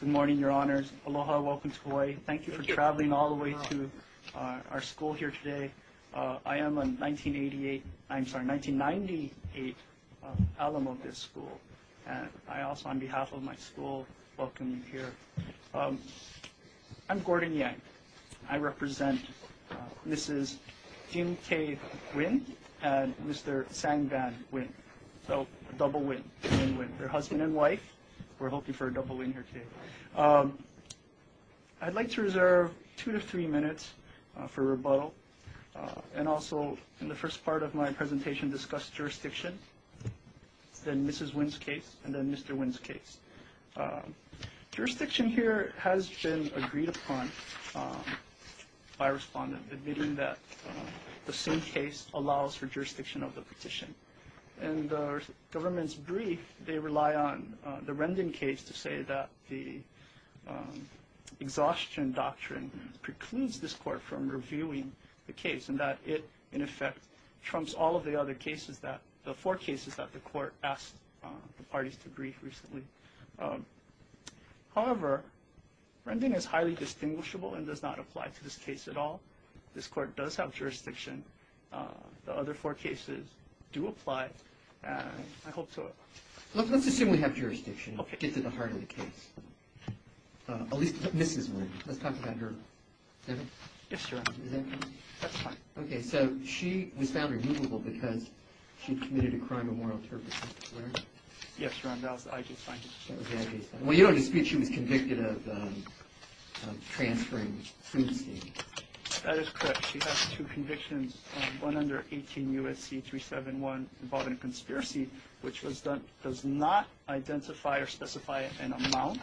Good morning, Your Honors. Aloha, welcome to Hawaii. Thank you for traveling all the way to our school here today. I am a 1988, I'm sorry, 1998 alum of this school. And I also, on behalf of my school, welcome you here. I'm Gordon Yang. I represent Mrs. Kim K. Huynh and Mr. Sang Van Huynh. So a double win, a win-win for husband and wife. We're hoping for a double win here today. I'd like to reserve two to three minutes for rebuttal. And also in the first part of my presentation, discuss jurisdiction, then Mrs. Huynh's case, and then Mr. Huynh's case. Jurisdiction here has been agreed upon by a respondent, admitting that the same case allows for jurisdiction of the petition. And the government's brief, they rely on the Rendon case to say that the exhaustion doctrine precludes this court from reviewing the case and that it, in effect, trumps all of the other cases that, the four cases that the court asked the parties to brief recently. However, Rendon is highly distinguishable and does not apply to this case at all. This court does have jurisdiction. The other four cases do apply. And I hope to... Let's assume we have jurisdiction. It's at the heart of the case. At least Mrs. Huynh. Let's talk about her. Is that right? Yes, Your Honor. Is that correct? That's fine. Okay, so she was found removable because she committed a crime of moral turpitude. Is that correct? Yes, Your Honor. That was the IG's finding. That was the IG's finding. Well, you don't dispute she was convicted of transferring food stamps. That is correct. She has two convictions, one under 18 U.S.C. 371 involving a conspiracy, which does not identify or specify an amount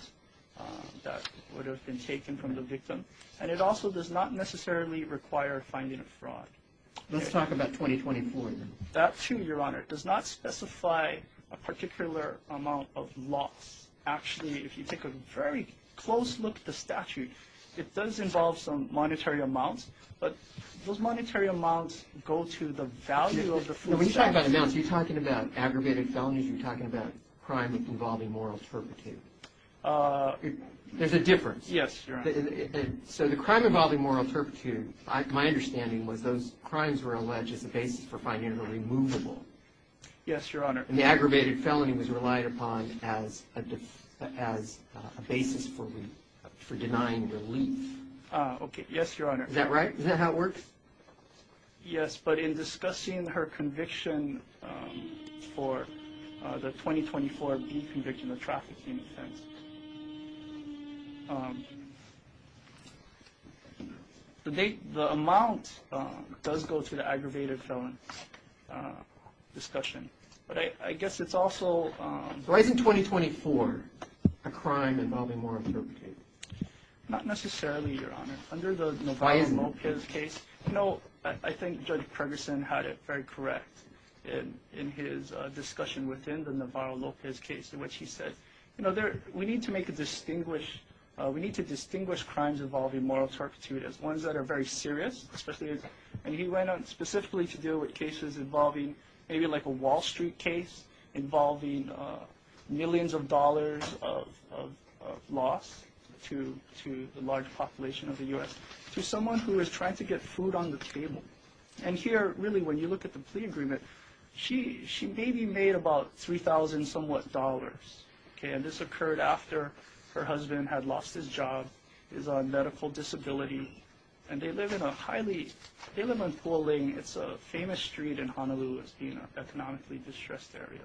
that would have been taken from the victim. And it also does not necessarily require finding a fraud. Let's talk about 2024, then. That, too, Your Honor, does not specify a particular amount of loss. Actually, if you take a very close look at the statute, it does involve some monetary amounts. But those monetary amounts go to the value of the food stamps. When you talk about amounts, are you talking about aggravated felonies or are you talking about crime involving moral turpitude? Yes, Your Honor. So the crime involving moral turpitude, my understanding was those crimes were alleged as a basis for finding her removable. Yes, Your Honor. And the aggravated felony was relied upon as a basis for denying relief. Okay. Yes, Your Honor. Yes, but in discussing her conviction for the 2024 deconviction of trafficking offense, the amount does go to the aggravated felon discussion. But I guess it's also... Why isn't 2024 a crime involving moral turpitude? Not necessarily, Your Honor. Under the Navarro-Lopez case, you know, I think Judge Ferguson had it very correct in his discussion within the Navarro-Lopez case, in which he said, you know, we need to distinguish crimes involving moral turpitude as ones that are very serious, and he went on specifically to deal with cases involving maybe like a Wall Street case involving millions of dollars of loss to the large population of the U.S., to someone who is trying to get food on the table. And here, really, when you look at the plea agreement, she maybe made about $3,000-somewhat. Okay, and this occurred after her husband had lost his job, is on medical disability, and they live in a highly... They live on Puoling. It's a famous street in Honolulu as being an economically distressed area.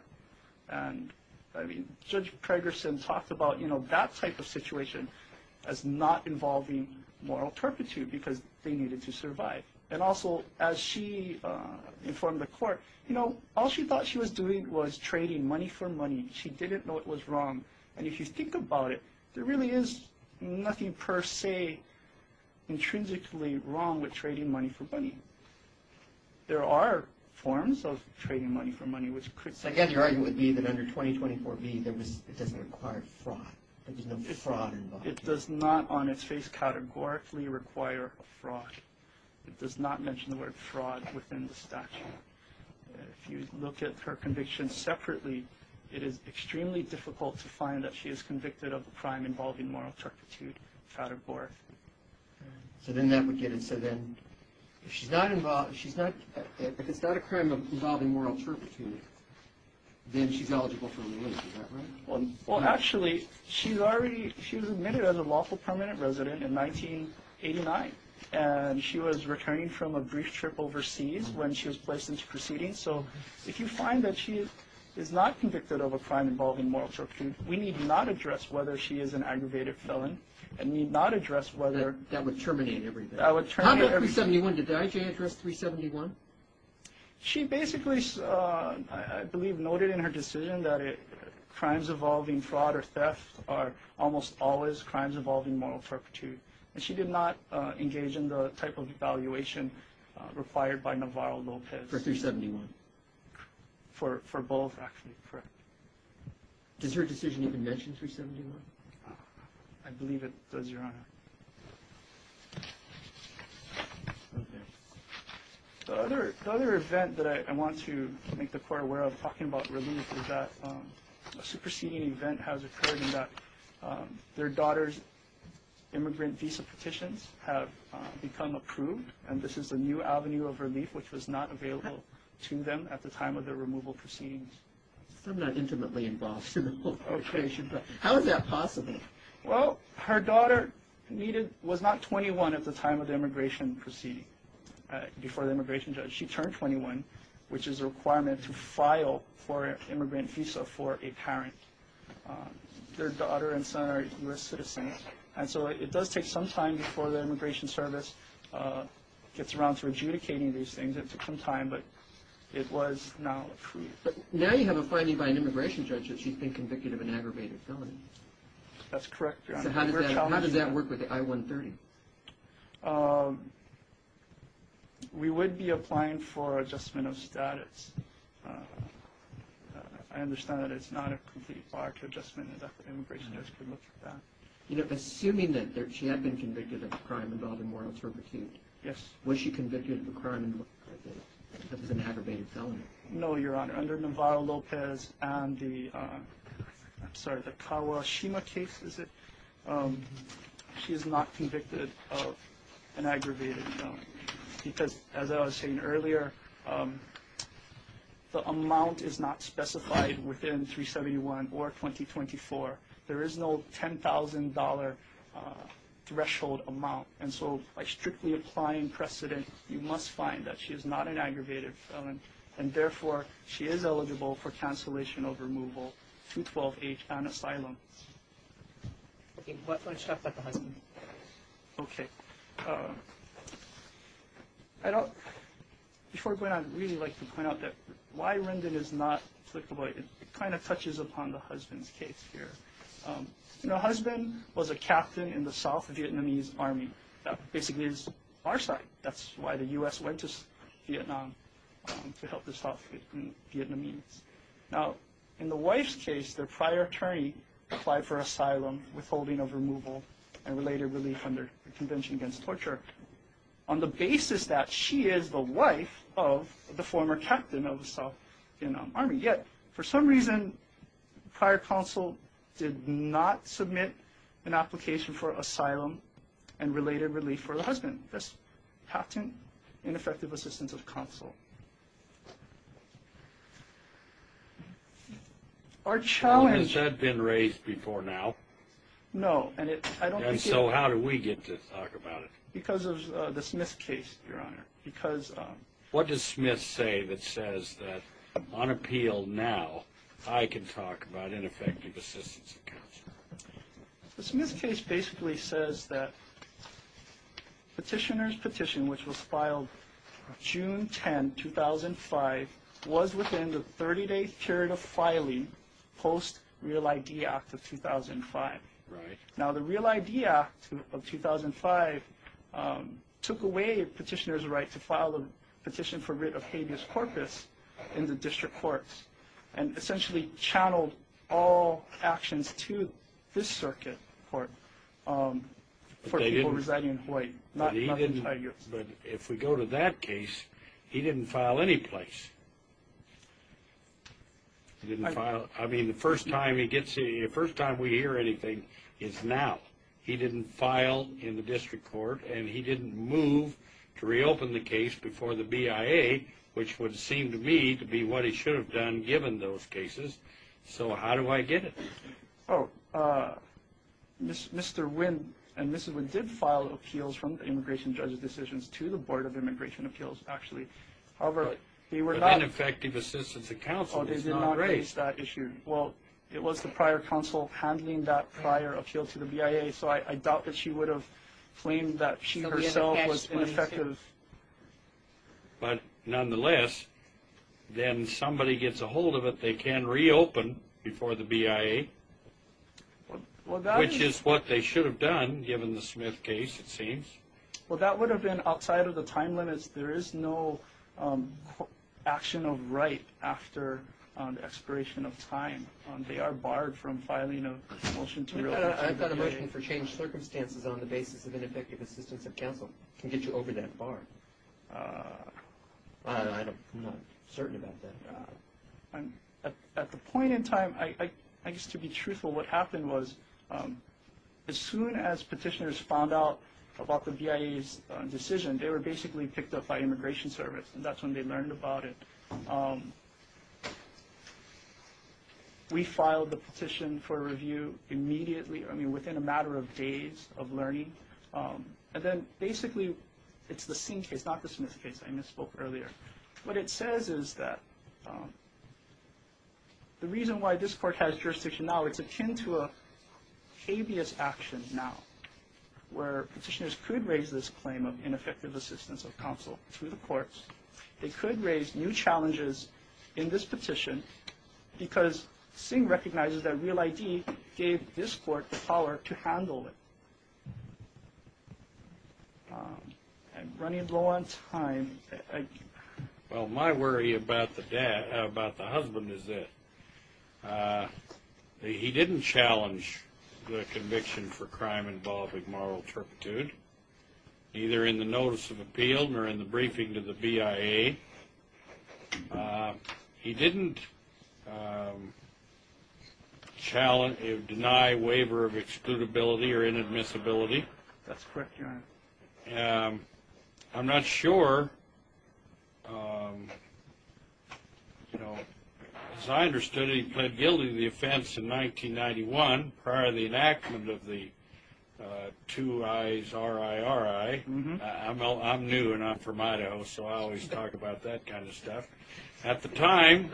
And, I mean, Judge Ferguson talked about, you know, that type of situation as not involving moral turpitude, because they needed to survive. And also, as she informed the court, you know, all she thought she was doing was trading money for money. She didn't know it was wrong. And if you think about it, there really is nothing per se intrinsically wrong with trading money for money. There are forms of trading money for money, which could... So, again, your argument would be that under 2024b, it doesn't require fraud. There's no fraud involved. It does not, on its face, categorically require fraud. It does not mention the word fraud within the statute. If you look at her conviction separately, it is extremely difficult to find that she is convicted of a crime involving moral turpitude, categorically. So then that would get us to then... If she's not involved, she's not... If it's not a crime involving moral turpitude, then she's eligible for release. Is that right? Well, actually, she's already... She was admitted as a lawful permanent resident in 1989. And she was returning from a brief trip overseas when she was placed into proceedings. So if you find that she is not convicted of a crime involving moral turpitude, we need not address whether she is an aggravated felon and need not address whether... That would terminate everything. That would terminate everything. How about 371? Did IJ address 371? She basically, I believe, noted in her decision that crimes involving fraud or theft are almost always crimes involving moral turpitude. And she did not engage in the type of evaluation required by Navarro-Lopez. For 371? For both, actually, correct. Does her decision even mention 371? I believe it does, Your Honor. The other event that I want to make the Court aware of, talking about relief, is that a superseding event has occurred in that their daughter's immigrant visa petitions have become approved, and this is the new avenue of relief, which was not available to them at the time of their removal proceedings. I'm not intimately involved in the whole situation, but how is that possible? Well, her daughter was not 21 at the time of the immigration proceeding, before the immigration judge. She turned 21, which is a requirement to file for an immigrant visa for a parent. Their daughter and son are U.S. citizens, and so it does take some time before the Immigration Service gets around to adjudicating these things. It took some time, but it was now approved. But now you have a finding by an immigration judge that she's been convicted of an aggravated felony. That's correct, Your Honor. So how does that work with the I-130? We would be applying for adjustment of status. I understand that it's not a complete bar to adjustment, and that the immigration judge could look at that. Assuming that she had been convicted of a crime involving moral servitude, was she convicted of a crime that was an aggravated felony? No, Your Honor. Under Navarro-Lopez and the Kawashima case, she is not convicted of an aggravated felony because, as I was saying earlier, the amount is not specified within 371 or 2024. There is no $10,000 threshold amount, and so by strictly applying precedent, you must find that she is not an aggravated felony, and therefore she is eligible for cancellation of removal through 12-H and asylum. Okay, why don't you talk about the husband? Okay. Before I go on, I'd really like to point out that why Rendon is not applicable, it kind of touches upon the husband's case here. The husband was a captain in the South Vietnamese Army. That basically is our side. That's why the U.S. went to Vietnam to help the South Vietnamese. Now, in the wife's case, their prior attorney applied for asylum, withholding of removal, and later relief under the Convention Against Torture on the basis that she is the wife of the former captain of the South Vietnam Army. Yet, for some reason, prior counsel did not submit an application for asylum and related relief for the husband. That's patent ineffective assistance of counsel. Our challenge— Has that been raised before now? No, and it— And so how do we get to talk about it? Because of the Smith case, Your Honor, because— What does Smith say that says that on appeal now, I can talk about ineffective assistance of counsel? The Smith case basically says that petitioner's petition, which was filed June 10, 2005, was within the 30-day period of filing post Real ID Act of 2005. Now, the Real ID Act of 2005 took away petitioner's right to file a petition for writ of habeas corpus in the district courts and essentially channeled all actions to this circuit court for people residing in Hawaii, not the Tigers. But if we go to that case, he didn't file any place. I mean, the first time we hear anything is now. He didn't file in the district court, and he didn't move to reopen the case before the BIA, which would seem to me to be what he should have done given those cases. So how do I get it? Oh, Mr. Wynn and Mrs. Wynn did file appeals from the immigration judge's decisions to the Board of Immigration Appeals, actually. However, they were not— But ineffective assistance of counsel is not raised. Oh, they did not raise that issue. Well, it was the prior counsel handling that prior appeal to the BIA, so I doubt that she would have claimed that she herself was ineffective. But nonetheless, then somebody gets a hold of it. They can reopen before the BIA, which is what they should have done given the Smith case, it seems. Well, that would have been outside of the time limits. There is no action of right after expiration of time. They are barred from filing a motion to reopen. I've got a motion for changed circumstances on the basis of ineffective assistance of counsel. It can get you over that bar. I'm not certain about that. At the point in time, I guess to be truthful, what happened was as soon as petitioners found out about the BIA's decision, they were basically picked up by Immigration Service, and that's when they learned about it. We filed the petition for review immediately, I mean within a matter of days of learning. And then basically it's the Singh case, not the Smith case. I misspoke earlier. What it says is that the reason why this court has jurisdiction now, it's akin to a habeas action now, where petitioners could raise this claim of ineffective assistance of counsel to the courts. They could raise new challenges in this petition because Singh recognizes that Real ID gave this court the power to handle it. I'm running low on time. Well, my worry about the husband is that he didn't challenge the conviction for crime involving moral turpitude, either in the notice of appeal or in the briefing to the BIA. He didn't deny waiver of excludability or inadmissibility. I'm not sure. As I understood it, he pled guilty to the offense in 1991 prior to the enactment of the 2 I's RIRI. I'm new and I'm from Idaho, so I always talk about that kind of stuff. At the time,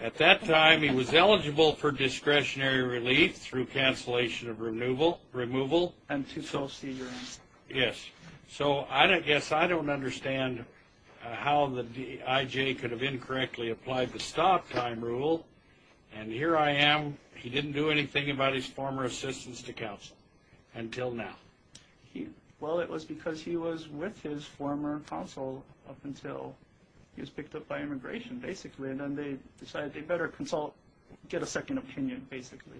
at that time, he was eligible for discretionary relief through cancellation of removal. Yes. So I guess I don't understand how the IJ could have incorrectly applied the stop time rule, and here I am. He didn't do anything about his former assistance to counsel until now. Well, it was because he was with his former counsel up until he was picked up by immigration, basically, and then they decided they better consult, get a second opinion, basically.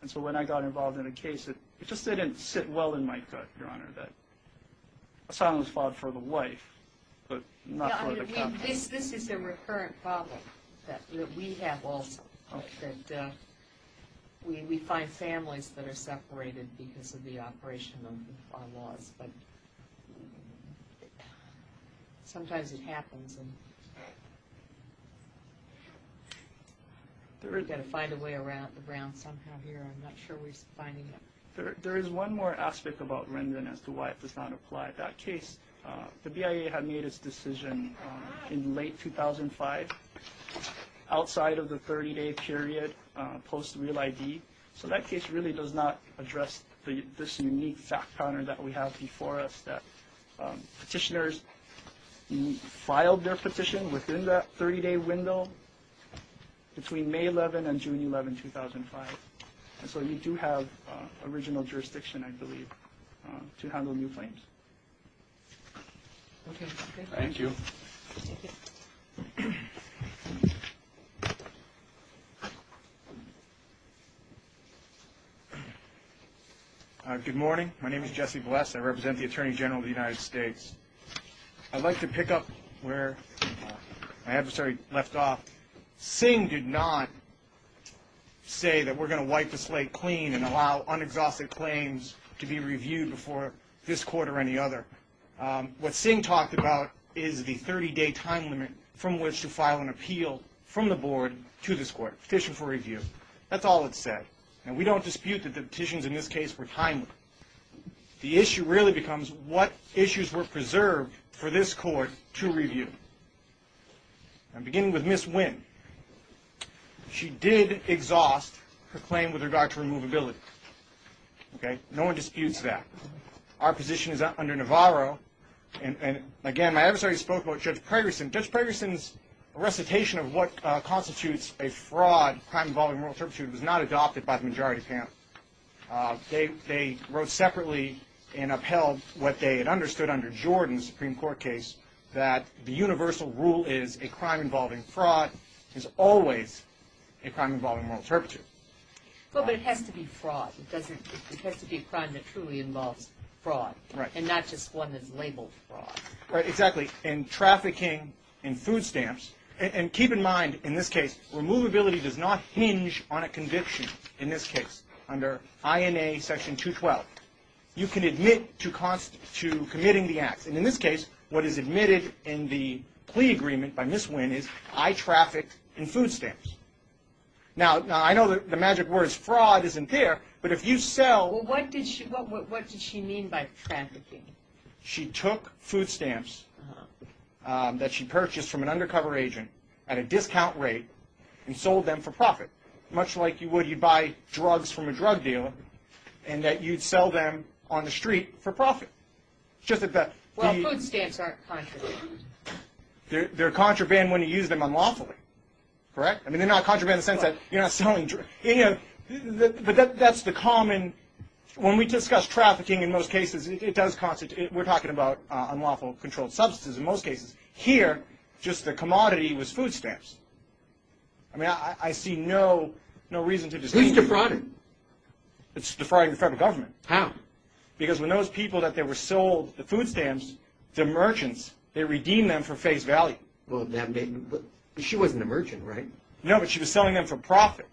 And so when I got involved in a case, it just didn't sit well in my gut, Your Honor, that asylum was filed for the wife but not for the counsel. This is a recurrent problem that we have also, that we find families that are separated because of the operation of our laws. But sometimes it happens, and we've got to find a way around somehow here. I'm not sure we're finding it. There is one more aspect about Rendon as to why it does not apply. That case, the BIA had made its decision in late 2005, outside of the 30-day period post real ID. So that case really does not address this unique fact pattern that we have before us, that petitioners filed their petition within that 30-day window between May 11 and June 11, 2005. And so you do have original jurisdiction, I believe, to handle new claims. Okay. Thank you. Good morning. My name is Jesse Bless. I represent the Attorney General of the United States. I'd like to pick up where my adversary left off. Singh did not say that we're going to wipe the slate clean and allow unexhausted claims to be reviewed before this court or any other. What Singh talked about is the 30-day time limit from which to file an appeal from the board to this court, petition for review. That's all it said. And we don't dispute that the petitions in this case were timely. The issue really becomes what issues were preserved for this court to review. I'm beginning with Ms. Wynn. She did exhaust her claim with regard to removability. Okay. No one disputes that. Our position is under Navarro. And, again, my adversary spoke about Judge Pregerson. Judge Pregerson's recitation of what constitutes a fraud, crime involving moral turpitude, was not adopted by the majority panel. They wrote separately and upheld what they had understood under Jordan's Supreme Court case, that the universal rule is a crime involving fraud is always a crime involving moral turpitude. Well, but it has to be fraud. It has to be a crime that truly involves fraud. Right. And not just one that's labeled fraud. Right. Exactly. In trafficking, in food stamps. And keep in mind, in this case, removability does not hinge on a conviction, in this case, under INA Section 212. You can admit to committing the acts. And in this case, what is admitted in the plea agreement by Ms. Wynn is, I trafficked in food stamps. Now, I know the magic word is fraud isn't there, but if you sell. Well, what did she mean by trafficking? She took food stamps that she purchased from an undercover agent at a discount rate and sold them for profit. Much like you would, you'd buy drugs from a drug dealer and that you'd sell them on the street for profit. Well, food stamps aren't contraband. They're contraband when you use them unlawfully. Correct? I mean, they're not contraband in the sense that you're not selling drugs. But that's the common. When we discuss trafficking, in most cases, it does constitute. We're talking about unlawful controlled substances in most cases. Here, just the commodity was food stamps. I mean, I see no reason to disagree. Who's defrauded? It's defrauding the federal government. How? Because when those people that they were sold the food stamps, they're merchants. They redeem them for face value. She wasn't a merchant, right? No, but she was selling them for profit,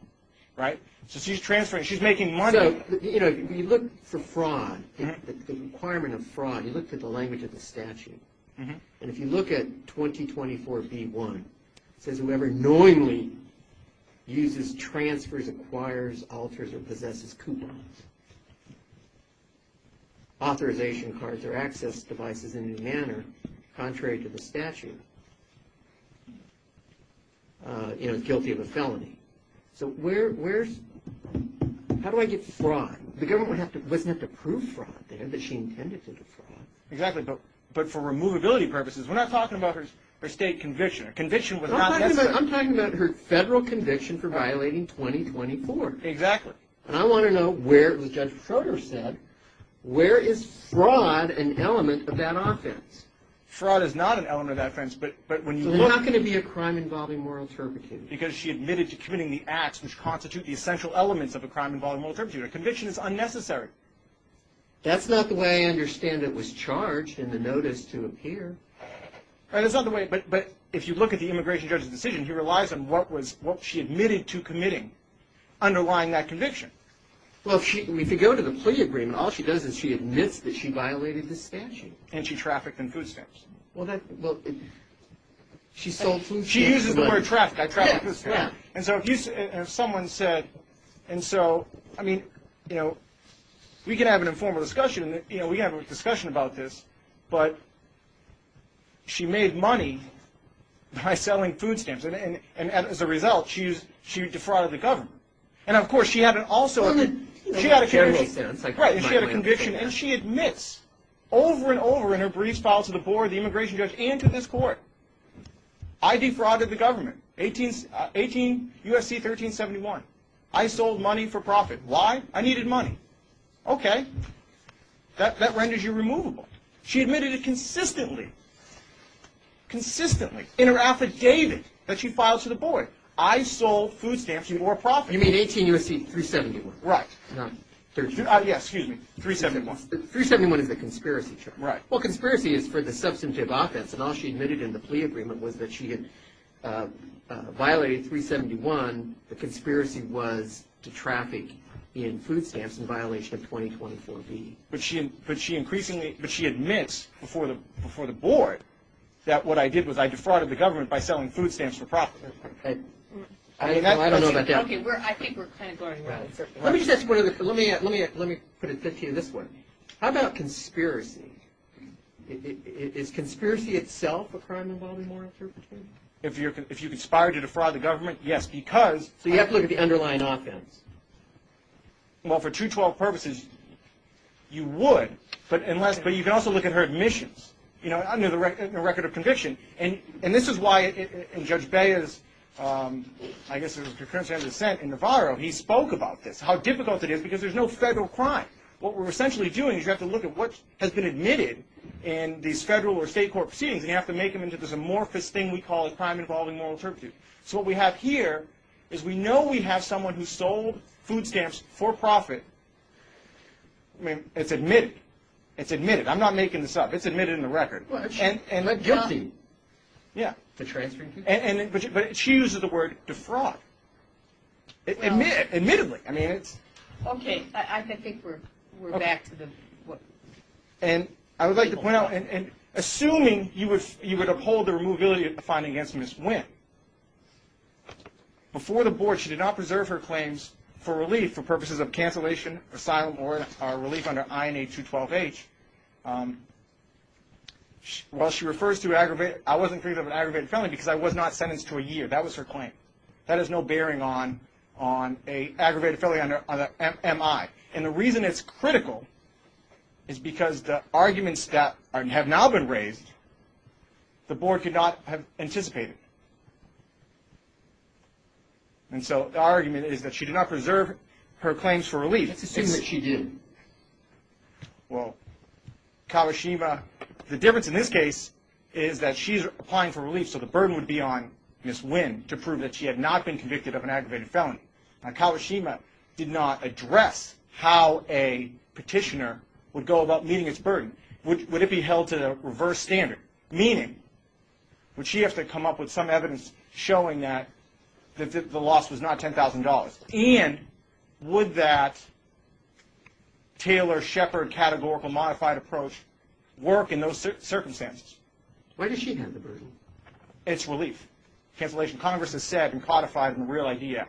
right? So she's transferring. She's making money. So, you know, you look for fraud. The requirement of fraud, you look for the language of the statute. And if you look at 2024B1, it says, whoever knowingly uses, transfers, acquires, alters, or possesses coupons, authorization cards, or access devices in any manner contrary to the statute, you know, guilty of a felony. So where's – how do I get fraud? The government wouldn't have to prove fraud there that she intended to defraud. Exactly, but for removability purposes, we're not talking about her state conviction. A conviction was not necessary. I'm talking about her federal conviction for violating 2024. Exactly. And I want to know where, as Judge Froder said, where is fraud an element of that offense? Fraud is not an element of that offense, but when you look – So there's not going to be a crime involving moral turpitude. Because she admitted to committing the acts which constitute the essential elements of a crime involving moral turpitude. A conviction is unnecessary. That's not the way I understand it was charged in the notice to appear. That's not the way – but if you look at the immigration judge's decision, he relies on what she admitted to committing underlying that conviction. Well, if you go to the plea agreement, all she does is she admits that she violated the statute. And she trafficked in food stamps. Well, she sold food stamps. She uses the word trafficked. I trafficked food stamps. And so if someone said – and so, I mean, you know, we can have an informal discussion. You know, we can have a discussion about this. But she made money by selling food stamps. And as a result, she defrauded the government. And, of course, she had also – she had a conviction. And she admits over and over in her briefs, files to the board, the immigration judge, and to this court, I defrauded the government, U.S.C. 1371. I sold money for profit. Why? I needed money. Okay. That renders you removable. She admitted it consistently, consistently in her affidavit that she filed to the board. I sold food stamps in more profit. You mean 18 U.S.C. 371. Right. Not 13. Yes, excuse me. 371. 371 is the conspiracy. Right. Well, conspiracy is for the substantive offense. And all she admitted in the plea agreement was that she had violated 371. And the conspiracy was to traffic in food stamps in violation of 2024B. But she increasingly – but she admits before the board that what I did was I defrauded the government by selling food stamps for profit. I don't know about that. Okay. I think we're kind of going around. Let me just ask one other – let me put it to you this way. How about conspiracy? Is conspiracy itself a crime involving moral interpretation? If you conspire to defraud the government, yes, because – So you have to look at the underlying offense. Well, for 212 purposes, you would. But you can also look at her admissions, you know, under the record of conviction. And this is why in Judge Beah's, I guess, concurrence and dissent in Navarro, he spoke about this, how difficult it is because there's no federal crime. What we're essentially doing is you have to look at what has been admitted in these federal or state court proceedings, and you have to make them into this amorphous thing we call a crime involving moral interpretation. So what we have here is we know we have someone who sold food stamps for profit. I mean, it's admitted. It's admitted. I'm not making this up. It's admitted in the record. And guilty. Yeah. But she uses the word defraud. Admittedly. I mean, it's – Okay. I think we're back to the – And I would like to point out, assuming you would uphold the removability of the finding against Ms. Wynn, before the board she did not preserve her claims for relief for purposes of cancellation, asylum, or relief under INA 212H. While she refers to aggravated – I wasn't thinking of an aggravated felony because I was not sentenced to a year. That was her claim. That has no bearing on an aggravated felony under MI. And the reason it's critical is because the arguments that have now been raised, the board could not have anticipated. And so the argument is that she did not preserve her claims for relief. Let's assume that she did. Well, Kawashima – the difference in this case is that she's applying for relief, so the burden would be on Ms. Wynn to prove that she had not been convicted of an aggravated felony. Now, Kawashima did not address how a petitioner would go about meeting its burden. Would it be held to the reverse standard? Meaning, would she have to come up with some evidence showing that the loss was not $10,000? And would that Taylor-Shepard categorical modified approach work in those circumstances? Where does she have the burden? It's relief. Cancellation. Congress has said and codified in the Real Idea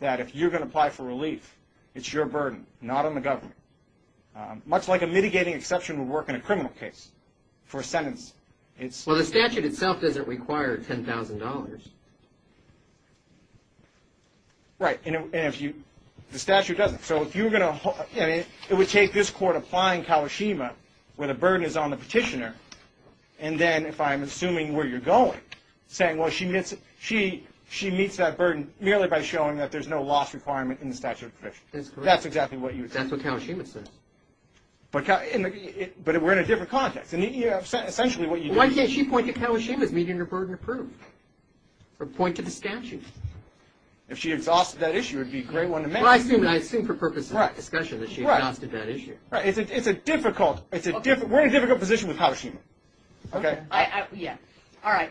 that if you're going to apply for relief, it's your burden, not on the government. Much like a mitigating exception would work in a criminal case. For a sentence, it's – Well, the statute itself doesn't require $10,000. Right. And if you – the statute doesn't. So if you're going to – it would take this court applying Kawashima where the burden is on the petitioner, and then if I'm assuming where you're going, saying, well, she meets that burden merely by showing that there's no loss requirement in the statute of provisions. That's correct. That's exactly what you would say. That's what Kawashima says. But we're in a different context. And essentially what you do – Why can't she point to Kawashima as meeting her burden approved or point to the statute? If she exhausted that issue, it would be a great one to make. Well, I assume for purposes of discussion that she exhausted that issue. Right. It's a difficult – we're in a difficult position with Kawashima. Okay? Yeah. All right.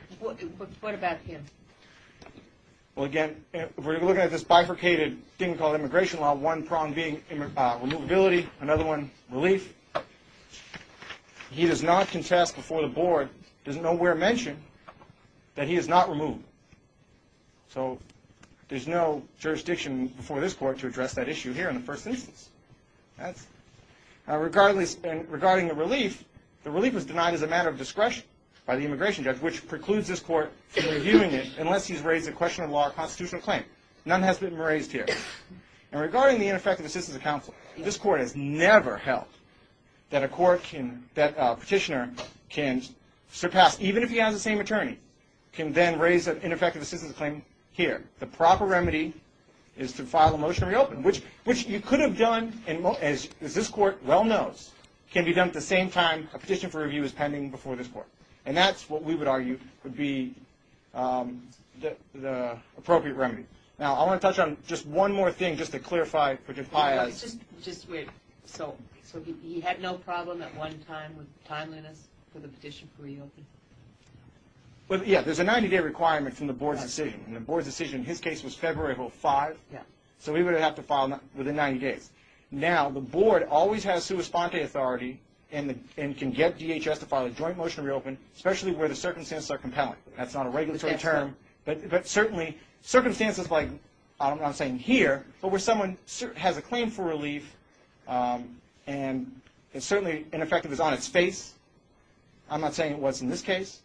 What about him? Well, again, we're looking at this bifurcated thing called immigration law, one prong being removability, another one relief. He does not contest before the board, doesn't nowhere mention that he is not removed. So there's no jurisdiction before this court to address that issue here in the first instance. And regarding the relief, the relief was denied as a matter of discretion by the immigration judge, which precludes this court from reviewing it unless he's raised a question of law or constitutional claim. None has been raised here. And regarding the ineffective assistance of counsel, this court has never held that a court can – an ineffective assistance claim here. The proper remedy is to file a motion to reopen, which you could have done, as this court well knows, can be done at the same time a petition for review is pending before this court. And that's what we would argue would be the appropriate remedy. Now, I want to touch on just one more thing just to clarify. Just wait. So he had no problem at one time with timeliness for the petition to reopen? Well, yeah. There's a 90-day requirement from the board's decision. And the board's decision in his case was February of 2005. So he would have to file within 90 days. Now, the board always has sua sponte authority and can get DHS to file a joint motion to reopen, especially where the circumstances are compelling. That's not a regulatory term. But certainly circumstances like, I'm not saying here, but where someone has a claim for relief and certainly ineffective is on its face, I'm not saying it was in this case,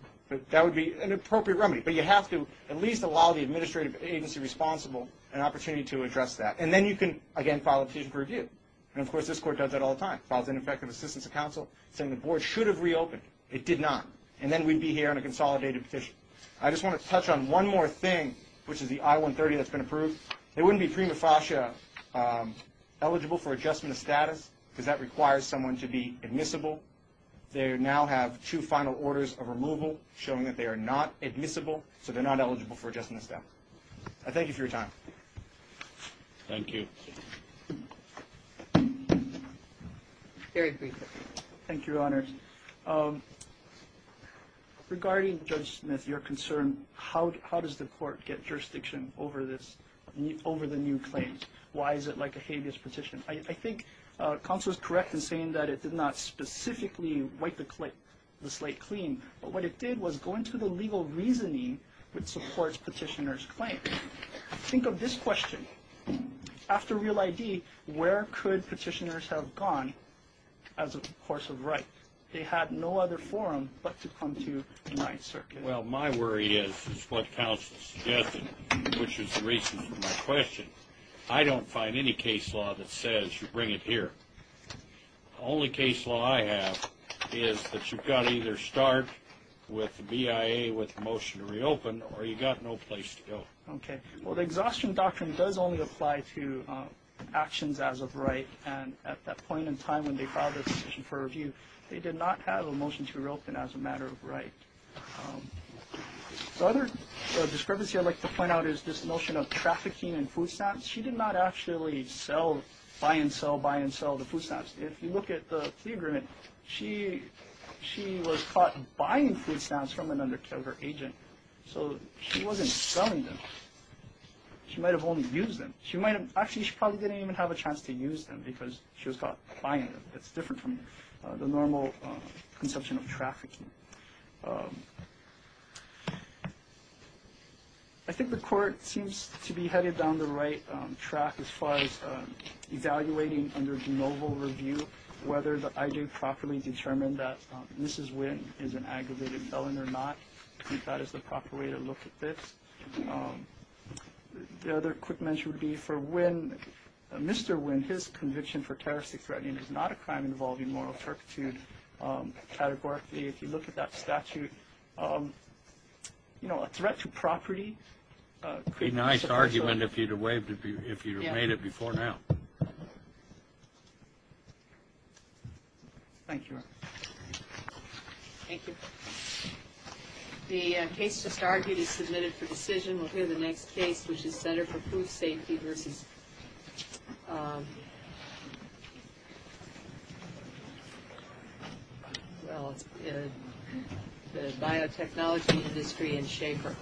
that would be an appropriate remedy. But you have to at least allow the administrative agency responsible an opportunity to address that. And then you can, again, file a petition for review. And, of course, this court does that all the time, files ineffective assistance to counsel, saying the board should have reopened. It did not. And then we'd be here on a consolidated petition. I just want to touch on one more thing, which is the I-130 that's been approved. They wouldn't be prima facie eligible for adjustment of status because that requires someone to be admissible. They now have two final orders of removal showing that they are not admissible, so they're not eligible for adjustment of status. I thank you for your time. Thank you. Eric, please. Thank you, Your Honor. Regarding Judge Smith, your concern, how does the court get jurisdiction over the new claims? Why is it like a habeas petition? I think counsel is correct in saying that it did not specifically wipe the slate clean, but what it did was go into the legal reasoning which supports petitioner's claim. Think of this question. After Real ID, where could petitioners have gone as a course of right? They had no other forum but to come to the Ninth Circuit. Well, my worry is what counsel suggested, which is the reason for my question. I don't find any case law that says you bring it here. The only case law I have is that you've got to either start with the BIA with the motion to reopen or you've got no place to go. Okay. Well, the exhaustion doctrine does only apply to actions as of right, and at that point in time when they filed their petition for review, they did not have a motion to reopen as a matter of right. The other discrepancy I'd like to point out is this notion of trafficking and food stamps. She did not actually buy and sell, buy and sell the food stamps. If you look at the plea agreement, she was caught buying food stamps from an undercover agent, so she wasn't selling them. She might have only used them. Actually, she probably didn't even have a chance to use them because she was caught buying them. It's different from the normal conception of trafficking. I think the court seems to be headed down the right track as far as evaluating under de novo review whether the IG properly determined that Mrs. Wynn is an aggravated felon or not. I think that is the proper way to look at this. The other quick mention would be for Wynn, Mr. Wynn, his conviction for terroristic threatening is not a crime involving moral turpitude categorically. If you look at that statute, a threat to property. It would be a nice argument if you had made it before now. Thank you. Thank you. The case just argued is submitted for decision. We'll hear the next case, which is Center for Food Safety versus the biotechnology industry in Schaefer.